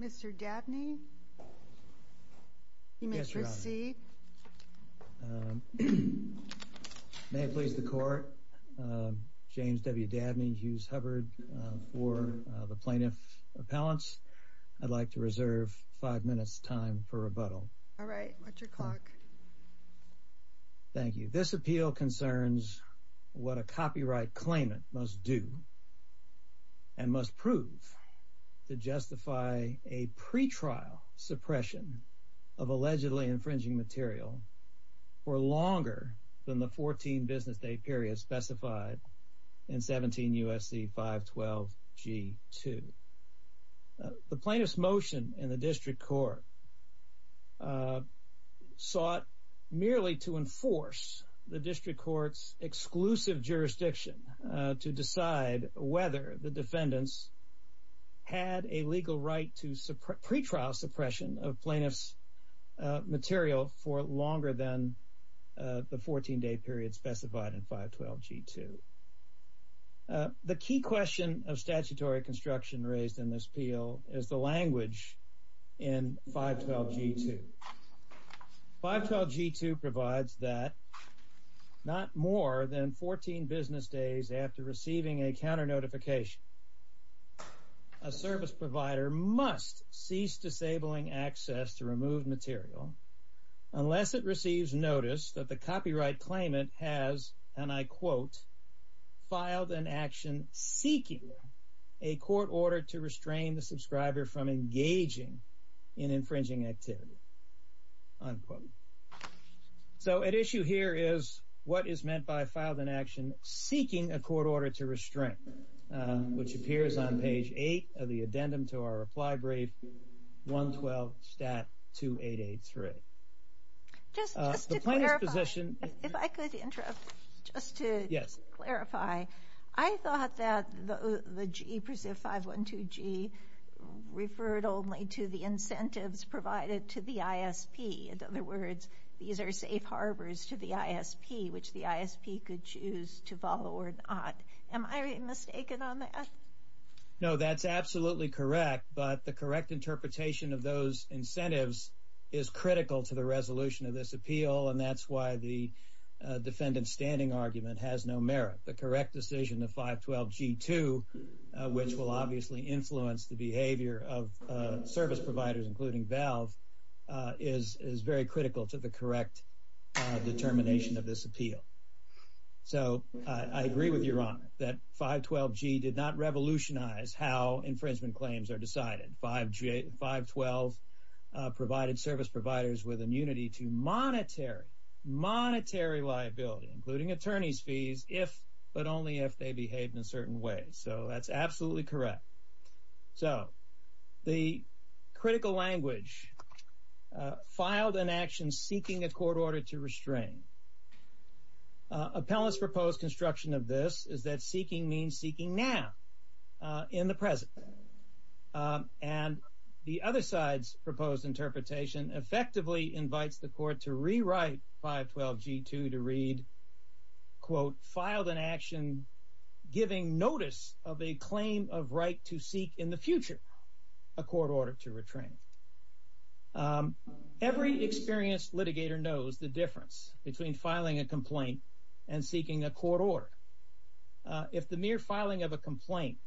Mr. Dabney, Mr. C, may it please the court, James W. Dabney, Hughes Hubbard for the plaintiff appellants, I'd like to reserve five minutes time for rebuttal. All right, watch your clock. Thank you. This appeal concerns what a copyright claimant must do and must prove to justify a pretrial suppression of allegedly infringing material for longer than the 14 business day period specified in 17 U.S.C. 512 G2. The plaintiff sought merely to enforce the district court's exclusive jurisdiction to decide whether the defendants had a legal right to pretrial suppression of plaintiff's material for longer than the 14 day period specified in 512 G2. The key question of statutory construction raised in this appeal is the language in 512 G2. 512 G2 provides that not more than 14 business days after receiving a counter notification a service provider must cease disabling access to removed material unless it receives notice that the copyright claimant has, and I quote, filed an action seeking a court order to restrain the subscriber from engaging in infringing activity, unquote. So at issue here is what is meant by filed an action seeking a court order to restrain, which appears on page 8 of the addendum to our reply 112 STAT 2883. Just to clarify, I thought that the 512 G referred only to the incentives provided to the ISP. In other words, these are safe harbors to the ISP, which the ISP could choose to follow or not. Am I mistaken on that? No, that's absolutely correct. But the correct interpretation of those incentives is critical to the resolution of this appeal, and that's why the defendant standing argument has no merit. The correct decision of 512 G2, which will obviously influence the behavior of service providers, including valve, is very critical to the correct determination of this appeal. So I agree with your honor that 512 G did not revolutionize how infringement claims are decided by 512 provided service providers with immunity to monetary, monetary liability, including attorney's fees, if but only if they behave in a certain way. So that's absolutely correct. So the critical language filed an action seeking a court order to restrain Appellants proposed construction of this is that seeking means seeking now in the present. And the other side's proposed interpretation effectively invites the court to rewrite 512 G2 to read, quote, filed an action giving notice of a claim of right to seek in the future, a court order to retrain. Every experienced litigator knows the difference between filing a complaint and seeking a court order. If the mere filing of a complaint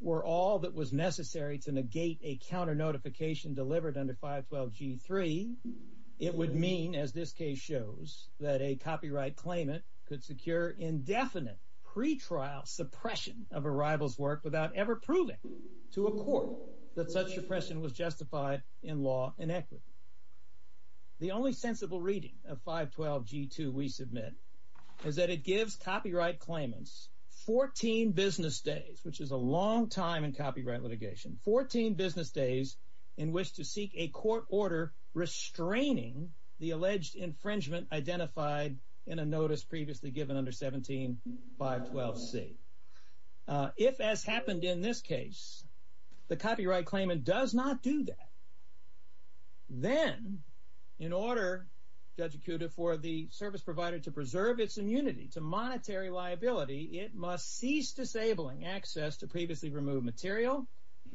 were all that was necessary to negate a counter notification delivered under 512 G3, it would mean, as this case shows, that a copyright claimant could secure indefinite pretrial suppression of a rival's work without ever proving to a court that such suppression was justified in law and equity. The only sensible reading of 512 G2 we submit is that it gives copyright claimants 14 business days, which is a long time in copyright litigation, 14 business days in which to seek a court order restraining the alleged infringement identified in a notice previously given under 17 512 C. If, as happened in this case, the copyright claimant does not do that, then in order, Judge Acuda, for the service provider to preserve its immunity to monetary liability, it must cease disabling access to previously removed material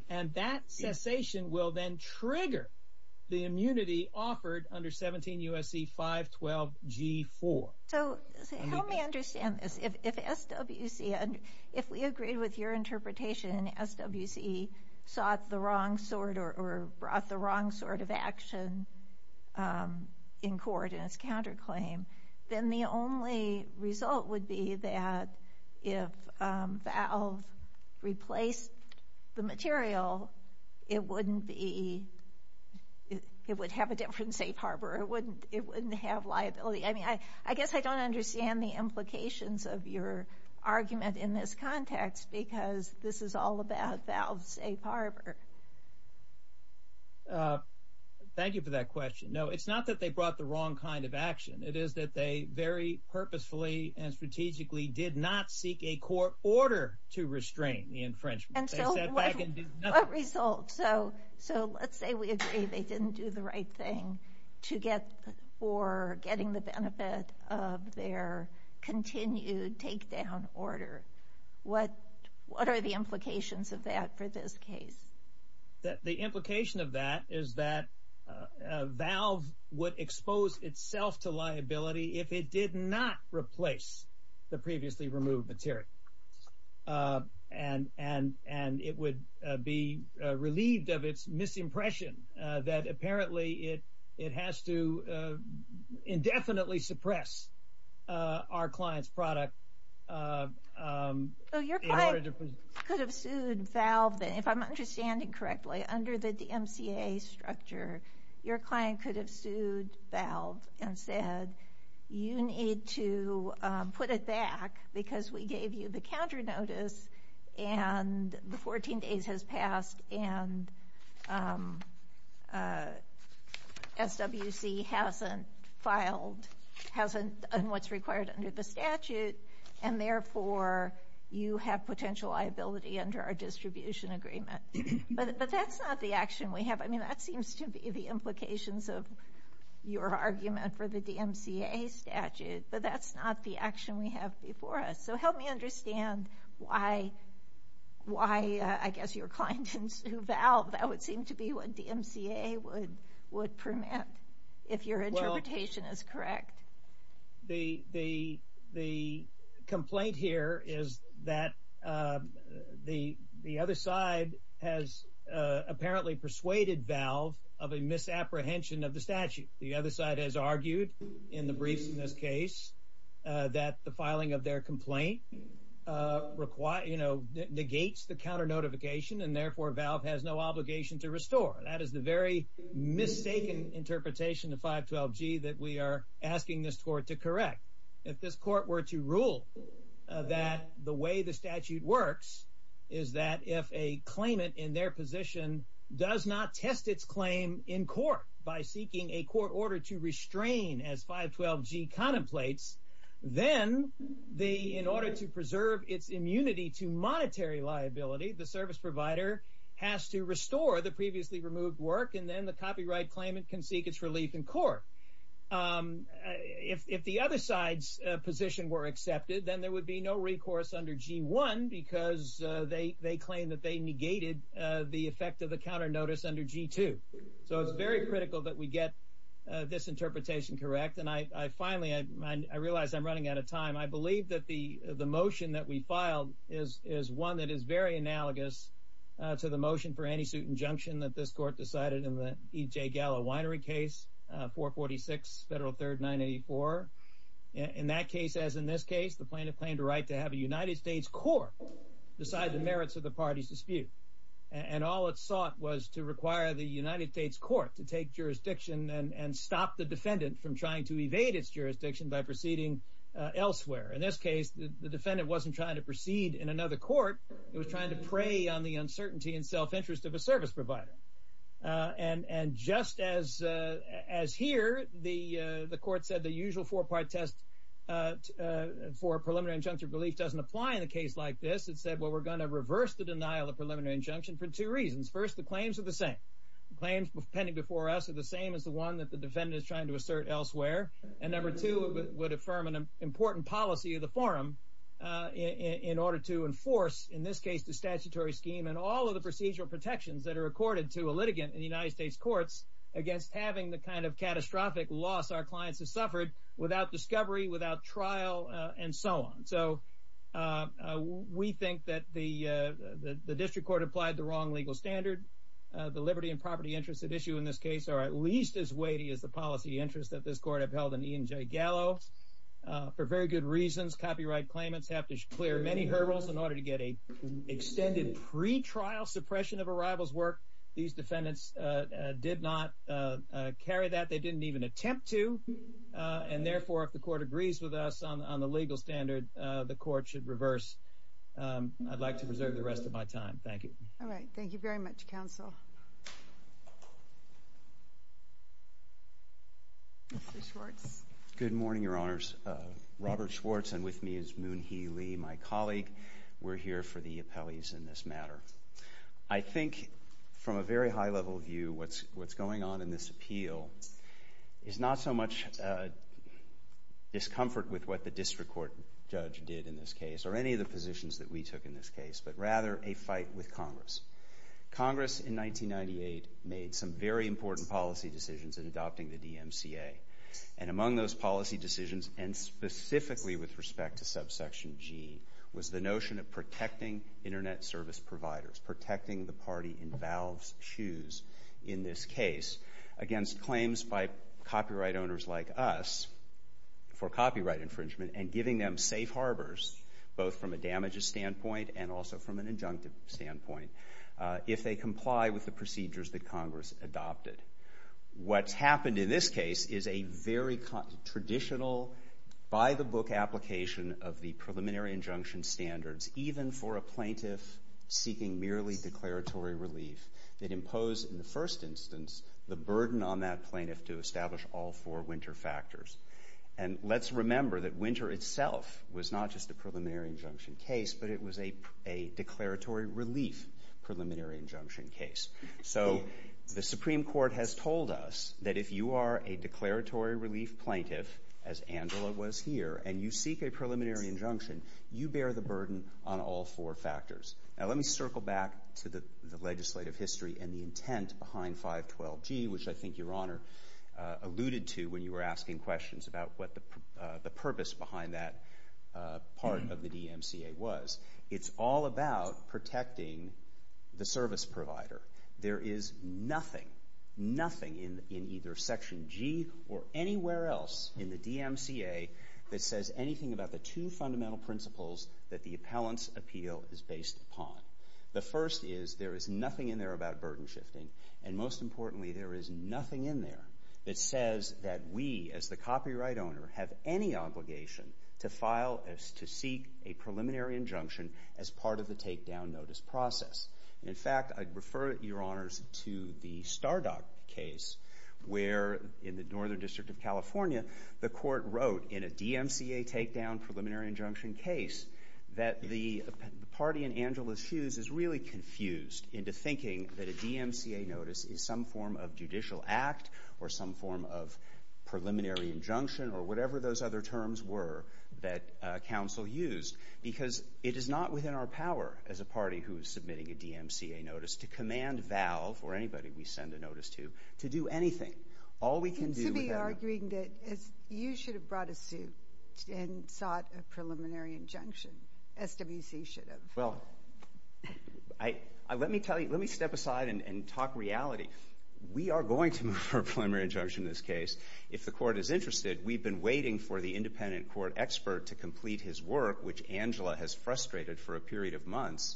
and that cessation will then trigger the immunity offered under 17 U.S.C. 512 G4. So help me understand this. If SWC – if we agreed with your interpretation and SWC sought the wrong sort or brought the wrong sort of action in court in its counterclaim, then the only result would be that if Valve replaced the material, it wouldn't be – it would have a different safe harbor. It wouldn't have liability. I mean, I guess I don't understand the implications of your argument in this context because this is all about Valve's safe harbor. Thank you for that question. No, it's not that they brought the wrong kind of action. It is that they very purposefully and strategically did not seek a court order to restrain the infringement. And so what result? So let's say we agree they didn't do the right thing to get – for getting the benefit of their continued takedown order. What are the implications of that for this case? The implication of that is that Valve would expose itself to liability if it did not replace the previously removed material. And it would be relieved of its misimpression that apparently it has to indefinitely suppress our client's product in order to – you could have sued Valve – if I'm understanding correctly, under the DMCA structure, your client could have sued Valve and said, you need to put it back because we gave you the counter notice and the 14 days has passed and SWC hasn't filed – and therefore you have potential liability under our distribution agreement. But that's not the action we have. I mean, that seems to be the implications of your argument for the DMCA statute, but that's not the action we have before us. So help me understand why, I guess, your client didn't sue Valve. That would seem to be what DMCA would permit, if your interpretation is correct. The complaint here is that the other side has apparently persuaded Valve of a misapprehension of the statute. The other side has argued in the briefs in this case that the filing of their complaint negates the counter notification, and therefore Valve has no obligation to restore. That is the very mistaken interpretation of 512G that we are asking this court to correct. If this court were to rule that the way the statute works is that if a claimant in their position does not test its claim in court by seeking a court order to restrain as 512G contemplates, then in order to preserve its immunity to monetary liability, the service provider has to restore the previously removed work, and then the copyright claimant can seek its relief in court. If the other side's position were accepted, then there would be no recourse under G1, because they claim that they negated the effect of the counter notice under G2. So it's very critical that we get this interpretation correct. And finally, I realize I'm running out of time. I believe that the motion that we filed is one that is very analogous to the motion for anti-suit injunction that this court decided in the E.J. Gallo winery case, 446 Federal 3rd 984. In that case, as in this case, the plaintiff claimed a right to have a United States court decide the merits of the party's dispute. And all it sought was to require the United States court to take jurisdiction and stop the defendant from trying to evade its jurisdiction by proceeding elsewhere. In this case, the defendant wasn't trying to proceed in another court. It was trying to prey on the uncertainty and self-interest of a service provider. And just as here, the court said the usual four-part test for preliminary injunctive relief doesn't apply in a case like this. It said, well, we're going to reverse the denial of preliminary injunction for two reasons. First, the claims are the same. Claims pending before us are the same as the one that the defendant is trying to assert elsewhere. And number two, it would affirm an important policy of the forum in order to enforce, in this case, the statutory scheme and all of the procedural protections that are accorded to a litigant in the United States courts against having the kind of catastrophic loss our clients have suffered without discovery, without trial, and so on. So we think that the district court applied the wrong legal standard. The liberty and property interests at issue in this case are at least as weighty as the policy interests that this court upheld in E&J Gallo. For very good reasons, copyright claimants have to clear many hurdles in order to get an extended pretrial suppression of a rival's work. These defendants did not carry that. They didn't even attempt to. And therefore, if the court agrees with us on the legal standard, the court should reverse. I'd like to preserve the rest of my time. Thank you. All right. Thank you very much, counsel. Mr. Schwartz. Good morning, Your Honors. Robert Schwartz, and with me is Moon Hee Lee, my colleague. We're here for the appellees in this matter. I think, from a very high-level view, what's going on in this appeal is not so much discomfort with what the district court judge did in this case, or any of the positions that we took in this case, but rather a fight with Congress. Congress, in 1998, made some very important policy decisions in adopting the DMCA. And among those policy decisions, and specifically with respect to subsection G, was the notion of protecting Internet service providers, protecting the party in Valve's shoes in this case, against claims by copyright owners like us for copyright infringement, and giving them safe harbors, both from a damages standpoint and also from an injunctive standpoint, if they comply with the procedures that Congress adopted. What's happened in this case is a very traditional, by-the-book application of the preliminary injunction standards, even for a plaintiff seeking merely declaratory relief, that imposed, in the first instance, the burden on that plaintiff to establish all four winter factors. And let's remember that winter itself was not just a preliminary injunction case, but it was a declaratory relief preliminary injunction case. So the Supreme Court has told us that if you are a declaratory relief plaintiff, as Angela was here, and you seek a preliminary injunction, you bear the burden on all four factors. Now let me circle back to the legislative history and the intent behind 512G, which I think Your Honor alluded to when you were asking questions about what the purpose behind that part of the DMCA was. It's all about protecting the service provider. There is nothing, nothing in either Section G or anywhere else in the DMCA that says anything about the two fundamental principles that the appellant's appeal is based upon. The first is there is nothing in there about burden shifting, and most importantly, there is nothing in there that says that we, as the copyright owner, have any obligation to file to seek a preliminary injunction as part of the takedown notice process. In fact, I'd refer Your Honors to the Stardot case where in the Northern District of California, the court wrote in a DMCA takedown preliminary injunction case that the party in Angela's shoes is really confused into thinking that a DMCA notice is some form of judicial act or some form of preliminary injunction or whatever those other terms were that counsel used because it is not within our power as a party who is submitting a DMCA notice to command Valve or anybody we send a notice to, to do anything. All we can do with that... You seem to be arguing that you should have brought a suit and sought a preliminary injunction. SWC should have. Well, let me step aside and talk reality. We are going to move for a preliminary injunction in this case. If the court is interested, we've been waiting for the independent court expert to complete his work, which Angela has frustrated for a period of months.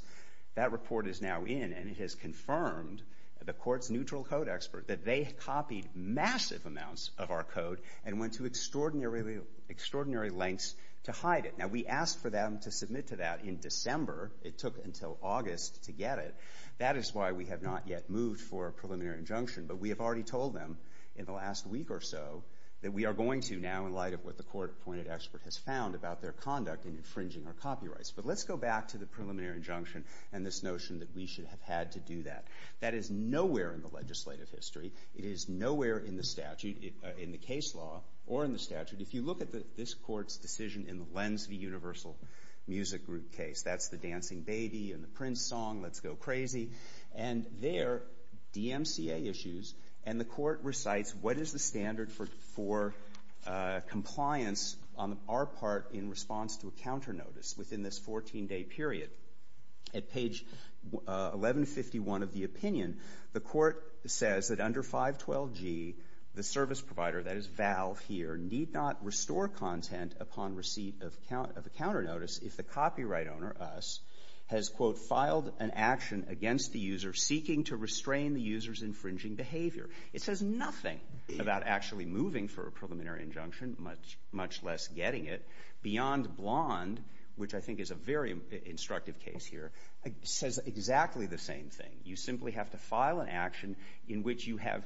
That report is now in, and it has confirmed, the court's neutral code expert, that they copied massive amounts of our code and went to extraordinary lengths to hide it. Now, we asked for them to submit to that in December. It took until August to get it. That is why we have not yet moved for a preliminary injunction, but we have already told them in the last week or so that we are going to now, in light of what the court-appointed expert has found about their conduct in infringing our copyrights. But let's go back to the preliminary injunction and this notion that we should have had to do that. That is nowhere in the legislative history. It is nowhere in the statute, in the case law, or in the statute. If you look at this court's decision in the Lens v. Universal Music Group case, that's the Dancing Baby and the Prince song, Let's Go Crazy. And there, DMCA issues, and the court recites, what is the standard for compliance on our part in response to a counter-notice within this 14-day period? At page 1151 of the opinion, the court says that under 512G, the service provider, that is Valve here, need not restore content upon receipt of a counter-notice if the copyright owner, us, has, quote, filed an action against the user seeking to restrain the user's infringing behavior. It says nothing about actually moving for a preliminary injunction, much less getting it. Beyond Blonde, which I think is a very instructive case here, says exactly the same thing. You simply have to file an action in which you have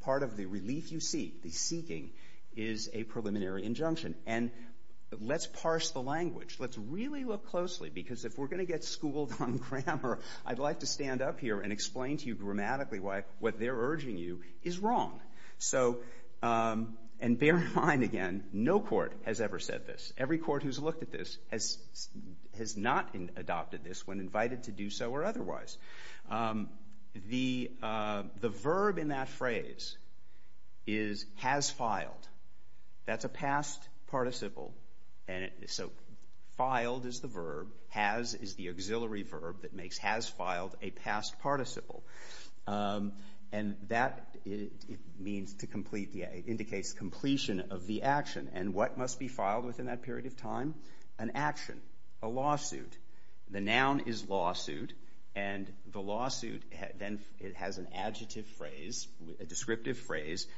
part of the relief you seek, the seeking, is a preliminary injunction. And let's parse the language. Let's really look closely, because if we're going to get schooled on grammar, I'd like to stand up here and explain to you grammatically why what they're urging you is wrong. So, and bear in mind, again, no court has ever said this. Every court who's looked at this has not adopted this when invited to do so or otherwise. The verb in that phrase is has filed. That's a past participle, and so filed is the verb. Has is the auxiliary verb that makes has filed a past participle. And that means to complete, indicates completion of the action. And what must be filed within that period of time? An action, a lawsuit. The noun is lawsuit, and the lawsuit then has an adjective phrase, a descriptive phrase,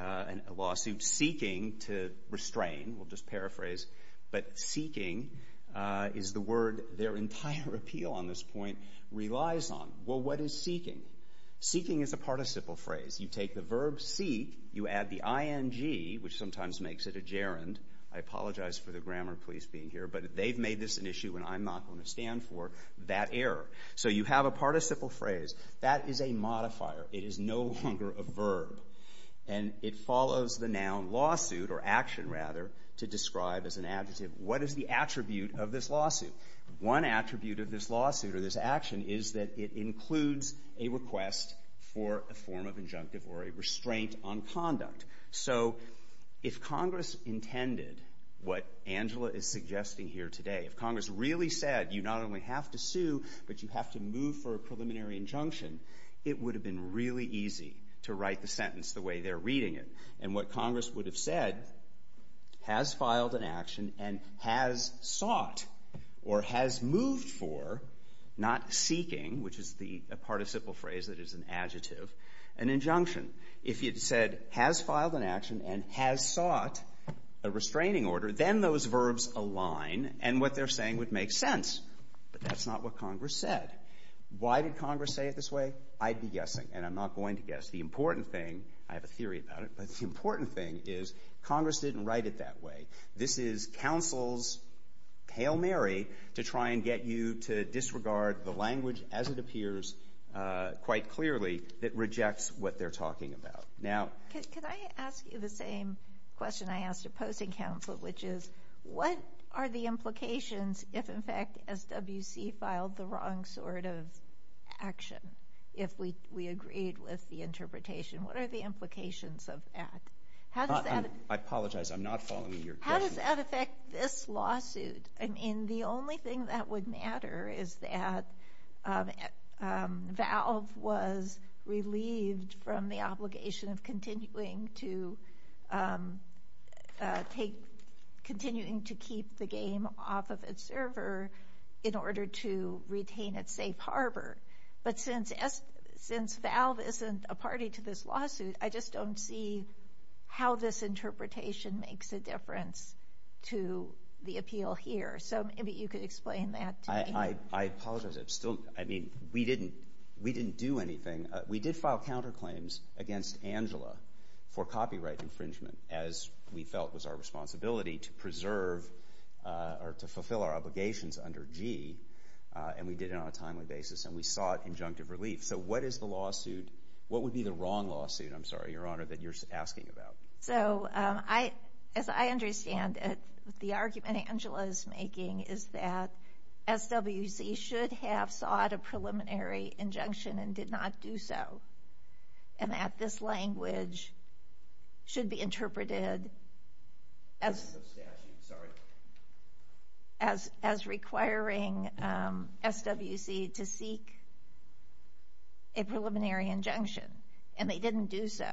a lawsuit seeking to restrain. We'll just paraphrase. But seeking is the word their entire appeal on this point relies on. Well, what is seeking? Seeking is a participle phrase. You take the verb seek, you add the ing, which sometimes makes it a gerund. I apologize for the grammar police being here, but they've made this an issue and I'm not going to stand for that error. So you have a participle phrase. That is a modifier. It is no longer a verb. And it follows the noun lawsuit, or action rather, to describe as an adjective. What is the attribute of this lawsuit? One attribute of this lawsuit or this action is that it includes a request for a form of injunctive or a restraint on conduct. So if Congress intended what Angela is suggesting here today, if Congress really said you not only have to sue but you have to move for a preliminary injunction, it would have been really easy to write the sentence the way they're reading it. And what Congress would have said has filed an action and has sought or has moved for, not seeking, which is the participle phrase that is an adjective, an injunction. If it said has filed an action and has sought a restraining order, then those verbs align and what they're saying would make sense. But that's not what Congress said. Why did Congress say it this way? I'd be guessing, and I'm not going to guess. The important thing, I have a theory about it, but the important thing is Congress didn't write it that way. This is counsel's Hail Mary to try and get you to disregard the language, as it appears quite clearly, that rejects what they're talking about. Can I ask you the same question I asked opposing counsel, which is what are the implications if, in fact, SWC filed the wrong sort of action? If we agreed with the interpretation, what are the implications of that? I apologize. I'm not following your question. How does that affect this lawsuit? I mean, the only thing that would matter is that Valve was relieved from the obligation of continuing to keep the game off of its server in order to retain its safe harbor. But since Valve isn't a party to this lawsuit, I just don't see how this interpretation makes a difference to the appeal here. So maybe you could explain that to me. I apologize. I mean, we didn't do anything. We did file counterclaims against Angela for copyright infringement, as we felt was our responsibility to preserve or to fulfill our obligations under G, and we did it on a timely basis, and we sought injunctive relief. So what is the lawsuit? What would be the wrong lawsuit, I'm sorry, Your Honor, that you're asking about? So as I understand it, the argument Angela is making is that SWC should have sought a preliminary injunction and did not do so, and that this language should be interpreted as requiring SWC to seek a preliminary injunction, and they didn't do so.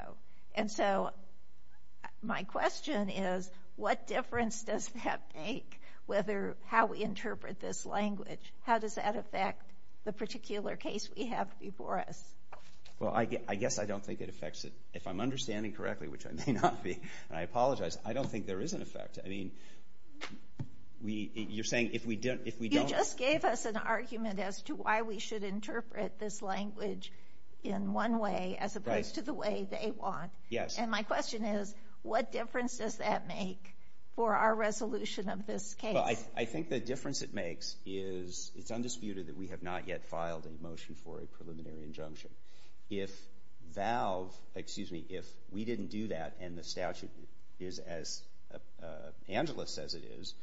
And so my question is, what difference does that make whether how we interpret this language? How does that affect the particular case we have before us? Well, I guess I don't think it affects it. If I'm understanding correctly, which I may not be, and I apologize, I don't think there is an effect. I mean, you're saying if we don't— You gave us an argument as to why we should interpret this language in one way as opposed to the way they want. Yes. And my question is, what difference does that make for our resolution of this case? Well, I think the difference it makes is it's undisputed that we have not yet filed a motion for a preliminary injunction. If Valve—excuse me, if we didn't do that and the statute is as—Angela says it is,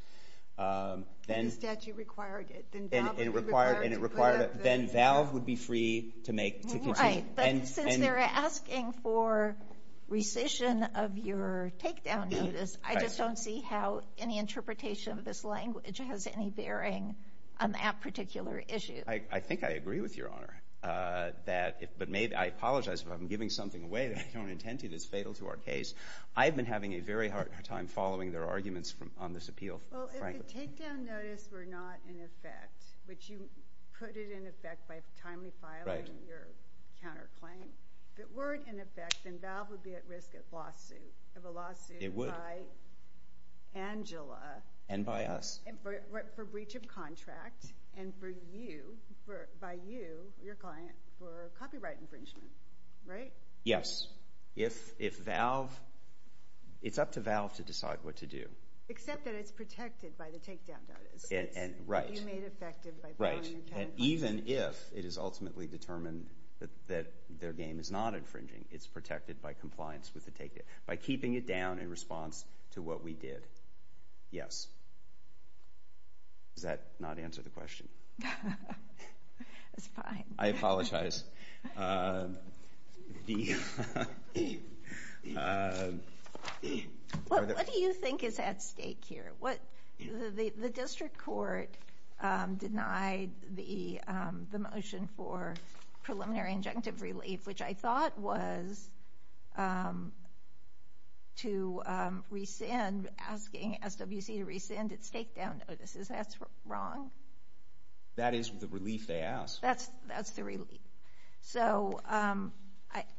then— If the statute required it, then Valve would be required to put up the— And it required it. Then Valve would be free to make— Right, but since they're asking for rescission of your takedown notice, I just don't see how any interpretation of this language has any bearing on that particular issue. I think I agree with Your Honor, but I apologize if I'm giving something away that I don't intend to that's fatal to our case. I've been having a very hard time following their arguments on this appeal, frankly. Well, if the takedown notice were not in effect, which you put it in effect by timely filing your counterclaim, if it weren't in effect, then Valve would be at risk of a lawsuit. It would. By Angela. And by us. For breach of contract and for you, by you, your client, for copyright infringement, right? Yes. If Valve—it's up to Valve to decide what to do. Except that it's protected by the takedown notice that you made effective by filing your counterclaim. Right, and even if it is ultimately determined that their game is not infringing, it's protected by compliance with the takedown notice, by keeping it down in response to what we did. Yes. Does that not answer the question? It's fine. I apologize. What do you think is at stake here? The district court denied the motion for preliminary injunctive relief, which I thought was to rescind, asking SWC to rescind its takedown notices. That's wrong? That is the relief they asked. That's the relief. So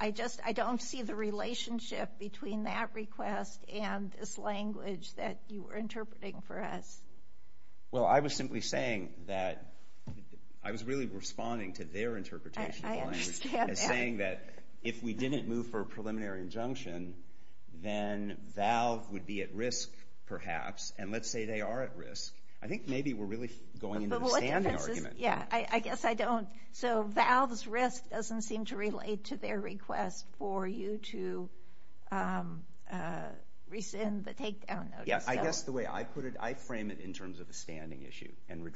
I just—I don't see the relationship between that request and this language that you were interpreting for us. Well, I was simply saying that—I was really responding to their interpretation of the language. I understand that. As saying that if we didn't move for a preliminary injunction, then Valve would be at risk, perhaps. And let's say they are at risk. Yeah, I guess I don't—so Valve's risk doesn't seem to relate to their request for you to rescind the takedown notice. Yeah, I guess the way I put it, I frame it in terms of a standing issue and the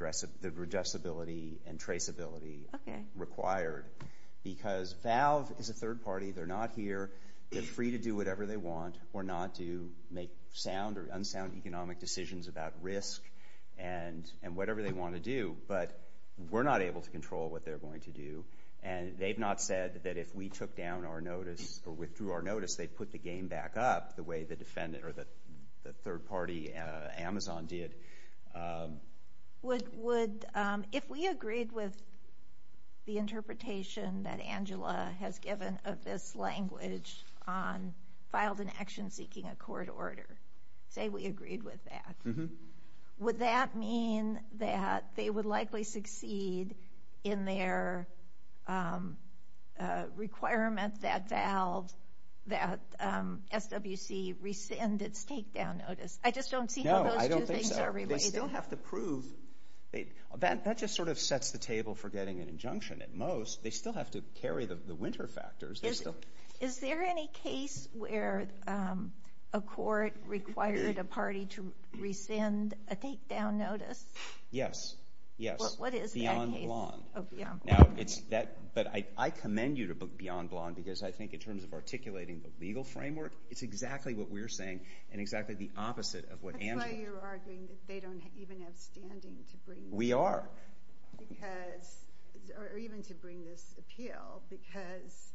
redressability and traceability required. Because Valve is a third party. They're not here. They're free to do whatever they want or not to make sound or unsound economic decisions about risk and whatever they want to do, but we're not able to control what they're going to do. And they've not said that if we took down our notice or withdrew our notice, they'd put the game back up the way the defendant or the third party, Amazon, did. Would—if we agreed with the interpretation that Angela has given of this language on filed an action seeking a court order, say we agreed with that, would that mean that they would likely succeed in their requirement that Valve, that SWC, rescind its takedown notice? I just don't see how those two things are related. No, I don't think so. They still have to prove—that just sort of sets the table for getting an injunction at most. They still have to carry the winter factors. Is there any case where a court required a party to rescind a takedown notice? Yes. Yes. What is that case? Beyond Blanc. Oh, Beyond Blanc. But I commend you to Beyond Blanc because I think in terms of articulating the legal framework, it's exactly what we're saying and exactly the opposite of what Angela— That's why you're arguing that they don't even have standing to bring— We are. Or even to bring this appeal because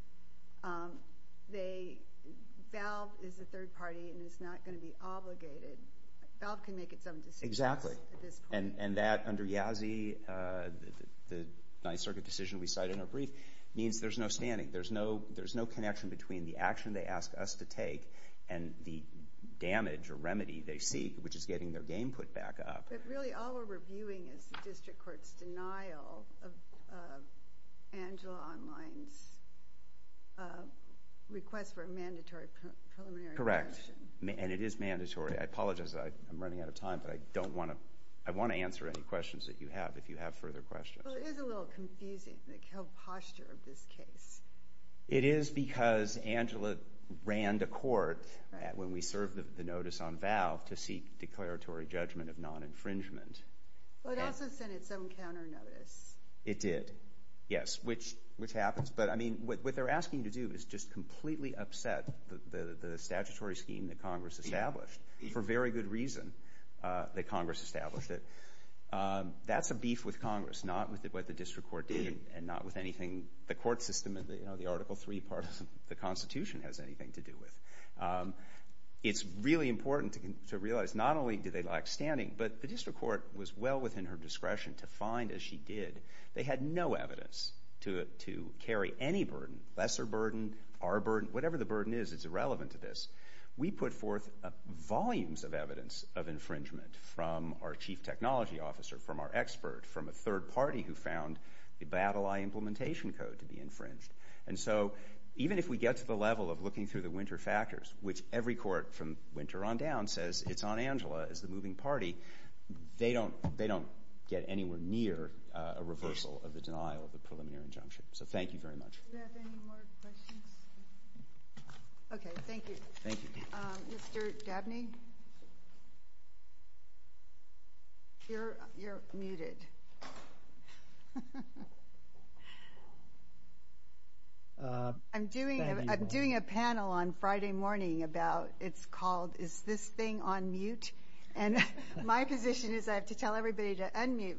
they—Valve is a third party and it's not going to be obligated. Valve can make its own decisions at this point. Exactly. And that under Yazzie, the Ninth Circuit decision we cited in our brief, means there's no standing. There's no connection between the action they ask us to take and the damage or remedy they seek, which is getting their game put back up. But really all we're reviewing is the district court's denial of Angela Online's request for a mandatory preliminary action. Correct. And it is mandatory. I apologize. I'm running out of time, but I don't want to—I want to answer any questions that you have if you have further questions. Well, it is a little confusing, the posture of this case. It is because Angela ran to court when we served the notice on Valve to seek declaratory judgment of non-infringement. But it also sent it some counter notice. It did, yes, which happens. But, I mean, what they're asking you to do is just completely upset the statutory scheme that Congress established, for very good reason that Congress established it. That's a beef with Congress, not with what the district court did, and not with anything the court system in the Article III part of the Constitution has anything to do with. It's really important to realize not only do they lack standing, but the district court was well within her discretion to find, as she did, they had no evidence to carry any burden, lesser burden, our burden. Whatever the burden is, it's irrelevant to this. We put forth volumes of evidence of infringement from our chief technology officer, from our expert, from a third party who found the Battle Eye Implementation Code to be infringed. And so even if we get to the level of looking through the winter factors, which every court from winter on down says it's on Angela as the moving party, they don't get anywhere near a reversal of the denial of the preliminary injunction. So thank you very much. Do we have any more questions? Okay, thank you. Thank you. Mr. Dabney, you're muted. I'm doing a panel on Friday morning about it's called Is This Thing on Mute? And my position is I have to tell everybody to unmute.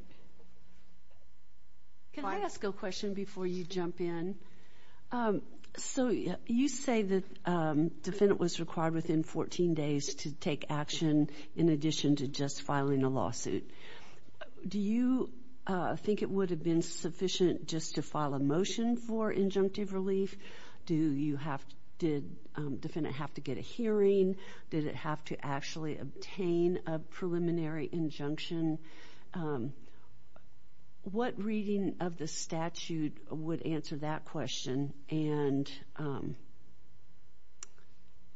Can I ask a question before you jump in? So you say the defendant was required within 14 days to take action in addition to just filing a lawsuit. Do you think it would have been sufficient just to file a motion for injunctive relief? Did the defendant have to get a hearing? Did it have to actually obtain a preliminary injunction? What reading of the statute would answer that question? And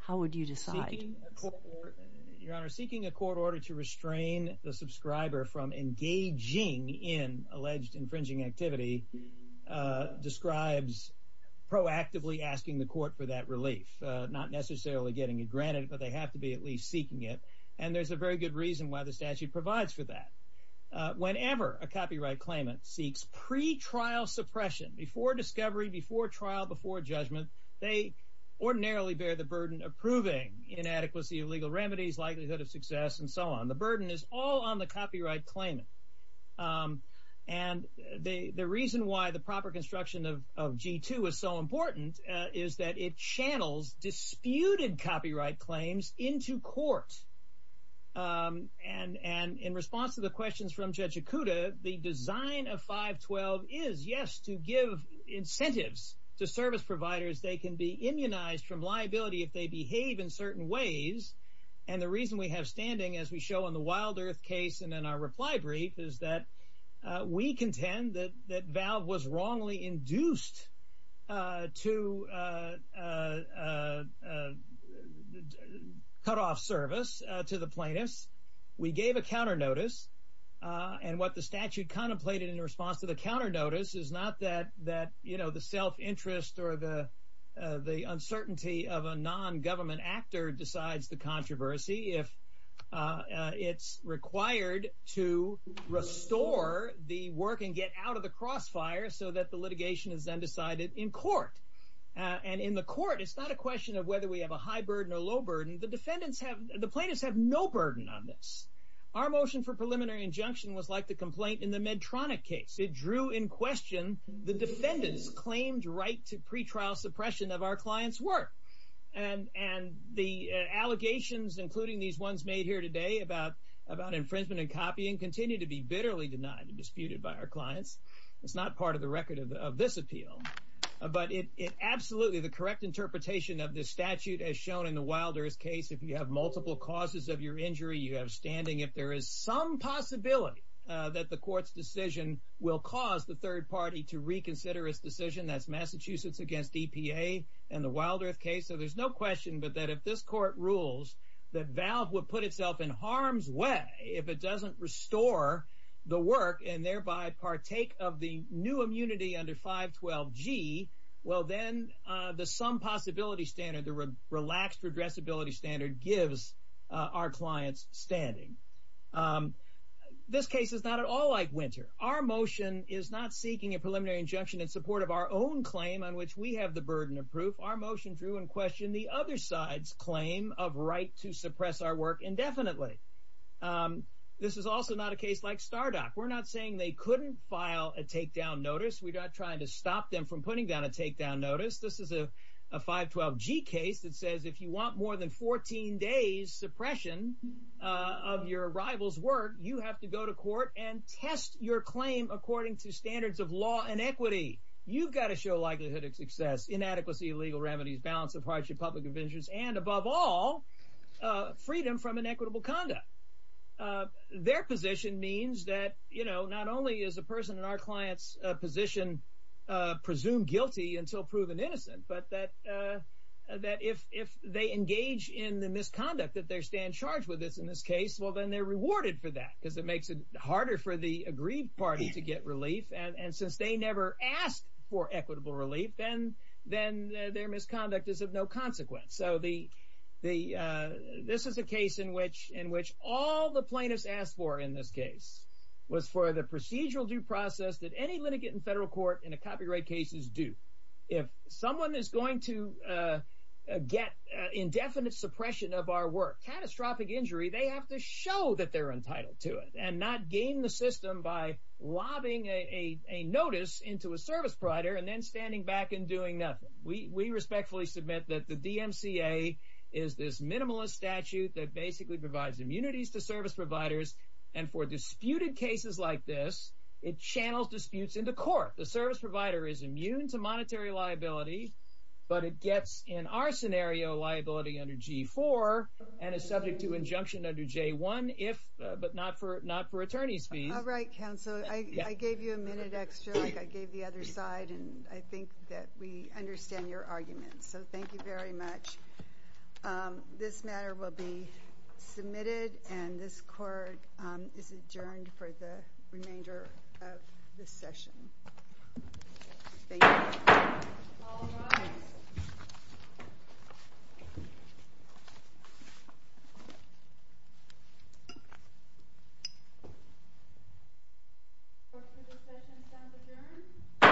how would you decide? Your Honor, seeking a court order to restrain the subscriber from engaging in alleged infringing activity describes proactively asking the court for that relief, not necessarily getting it granted, but they have to be at least seeking it. And there's a very good reason why the statute provides for that. Whenever a copyright claimant seeks pretrial suppression before discovery, before trial, before judgment, they ordinarily bear the burden of proving inadequacy of legal remedies, likelihood of success, and so on. The burden is all on the copyright claimant. And the reason why the proper construction of G2 is so important is that it channels disputed copyright claims into court. And in response to the questions from Judge Ikuda, the design of 512 is, yes, to give incentives to service providers. They can be immunized from liability if they behave in certain ways. And the reason we have standing, as we show in the Wild Earth case and in our reply brief, is that we contend that Valve was wrongly induced to cut off service to the plaintiffs. We gave a counter notice. And what the statute contemplated in response to the counter notice is not that, you know, the self-interest or the uncertainty of a nongovernment actor decides the controversy. It's required to restore the work and get out of the crossfire so that the litigation is then decided in court. And in the court, it's not a question of whether we have a high burden or low burden. The defendants have, the plaintiffs have no burden on this. Our motion for preliminary injunction was like the complaint in the Medtronic case. It drew in question the defendant's claimed right to pretrial suppression of our client's work. And the allegations, including these ones made here today about infringement and copying, continue to be bitterly denied and disputed by our clients. It's not part of the record of this appeal. But it absolutely, the correct interpretation of this statute as shown in the Wild Earth case, if you have multiple causes of your injury, you have standing, if there is some possibility that the court's decision will cause the third party to reconsider its decision, that's Massachusetts against EPA and the Wild Earth case. So there's no question but that if this court rules that Valve would put itself in harm's way if it doesn't restore the work and thereby partake of the new immunity under 512G, well, then the some possibility standard, the relaxed redressability standard, gives our clients standing. This case is not at all like Winter. Our motion is not seeking a preliminary injunction in support of our own claim on which we have the burden of proof. Our motion drew in question the other side's claim of right to suppress our work indefinitely. This is also not a case like Stardot. We're not saying they couldn't file a takedown notice. We're not trying to stop them from putting down a takedown notice. This is a 512G case that says if you want more than 14 days suppression of your rival's work, you have to go to court and test your claim according to standards of law and equity. You've got to show likelihood of success, inadequacy of legal remedies, balance of hardship, public conventions, and above all, freedom from inequitable conduct. Their position means that, you know, not only is a person in our client's position presumed guilty until proven innocent, but that if they engage in the misconduct that they stand charged with in this case, well, then they're rewarded for that because it makes it harder for the agreed party to get relief. And since they never asked for equitable relief, then their misconduct is of no consequence. So this is a case in which all the plaintiffs asked for in this case was for the procedural due process that any litigant in federal court in a copyright case is due. If someone is going to get indefinite suppression of our work, catastrophic injury, they have to show that they're entitled to it and not game the system by lobbing a notice into a service provider and then standing back and doing nothing. We respectfully submit that the DMCA is this minimalist statute that basically provides immunities to service providers, and for disputed cases like this, it channels disputes into court. The service provider is immune to monetary liability, but it gets, in our scenario, liability under G-4 and is subject to injunction under J-1 if, but not for attorney's fees. All right, counsel. I gave you a minute extra like I gave the other side, and I think that we understand your argument. So thank you very much. This matter will be submitted, and this court is adjourned for the remainder of this session. Thank you. All rise. The session is now adjourned.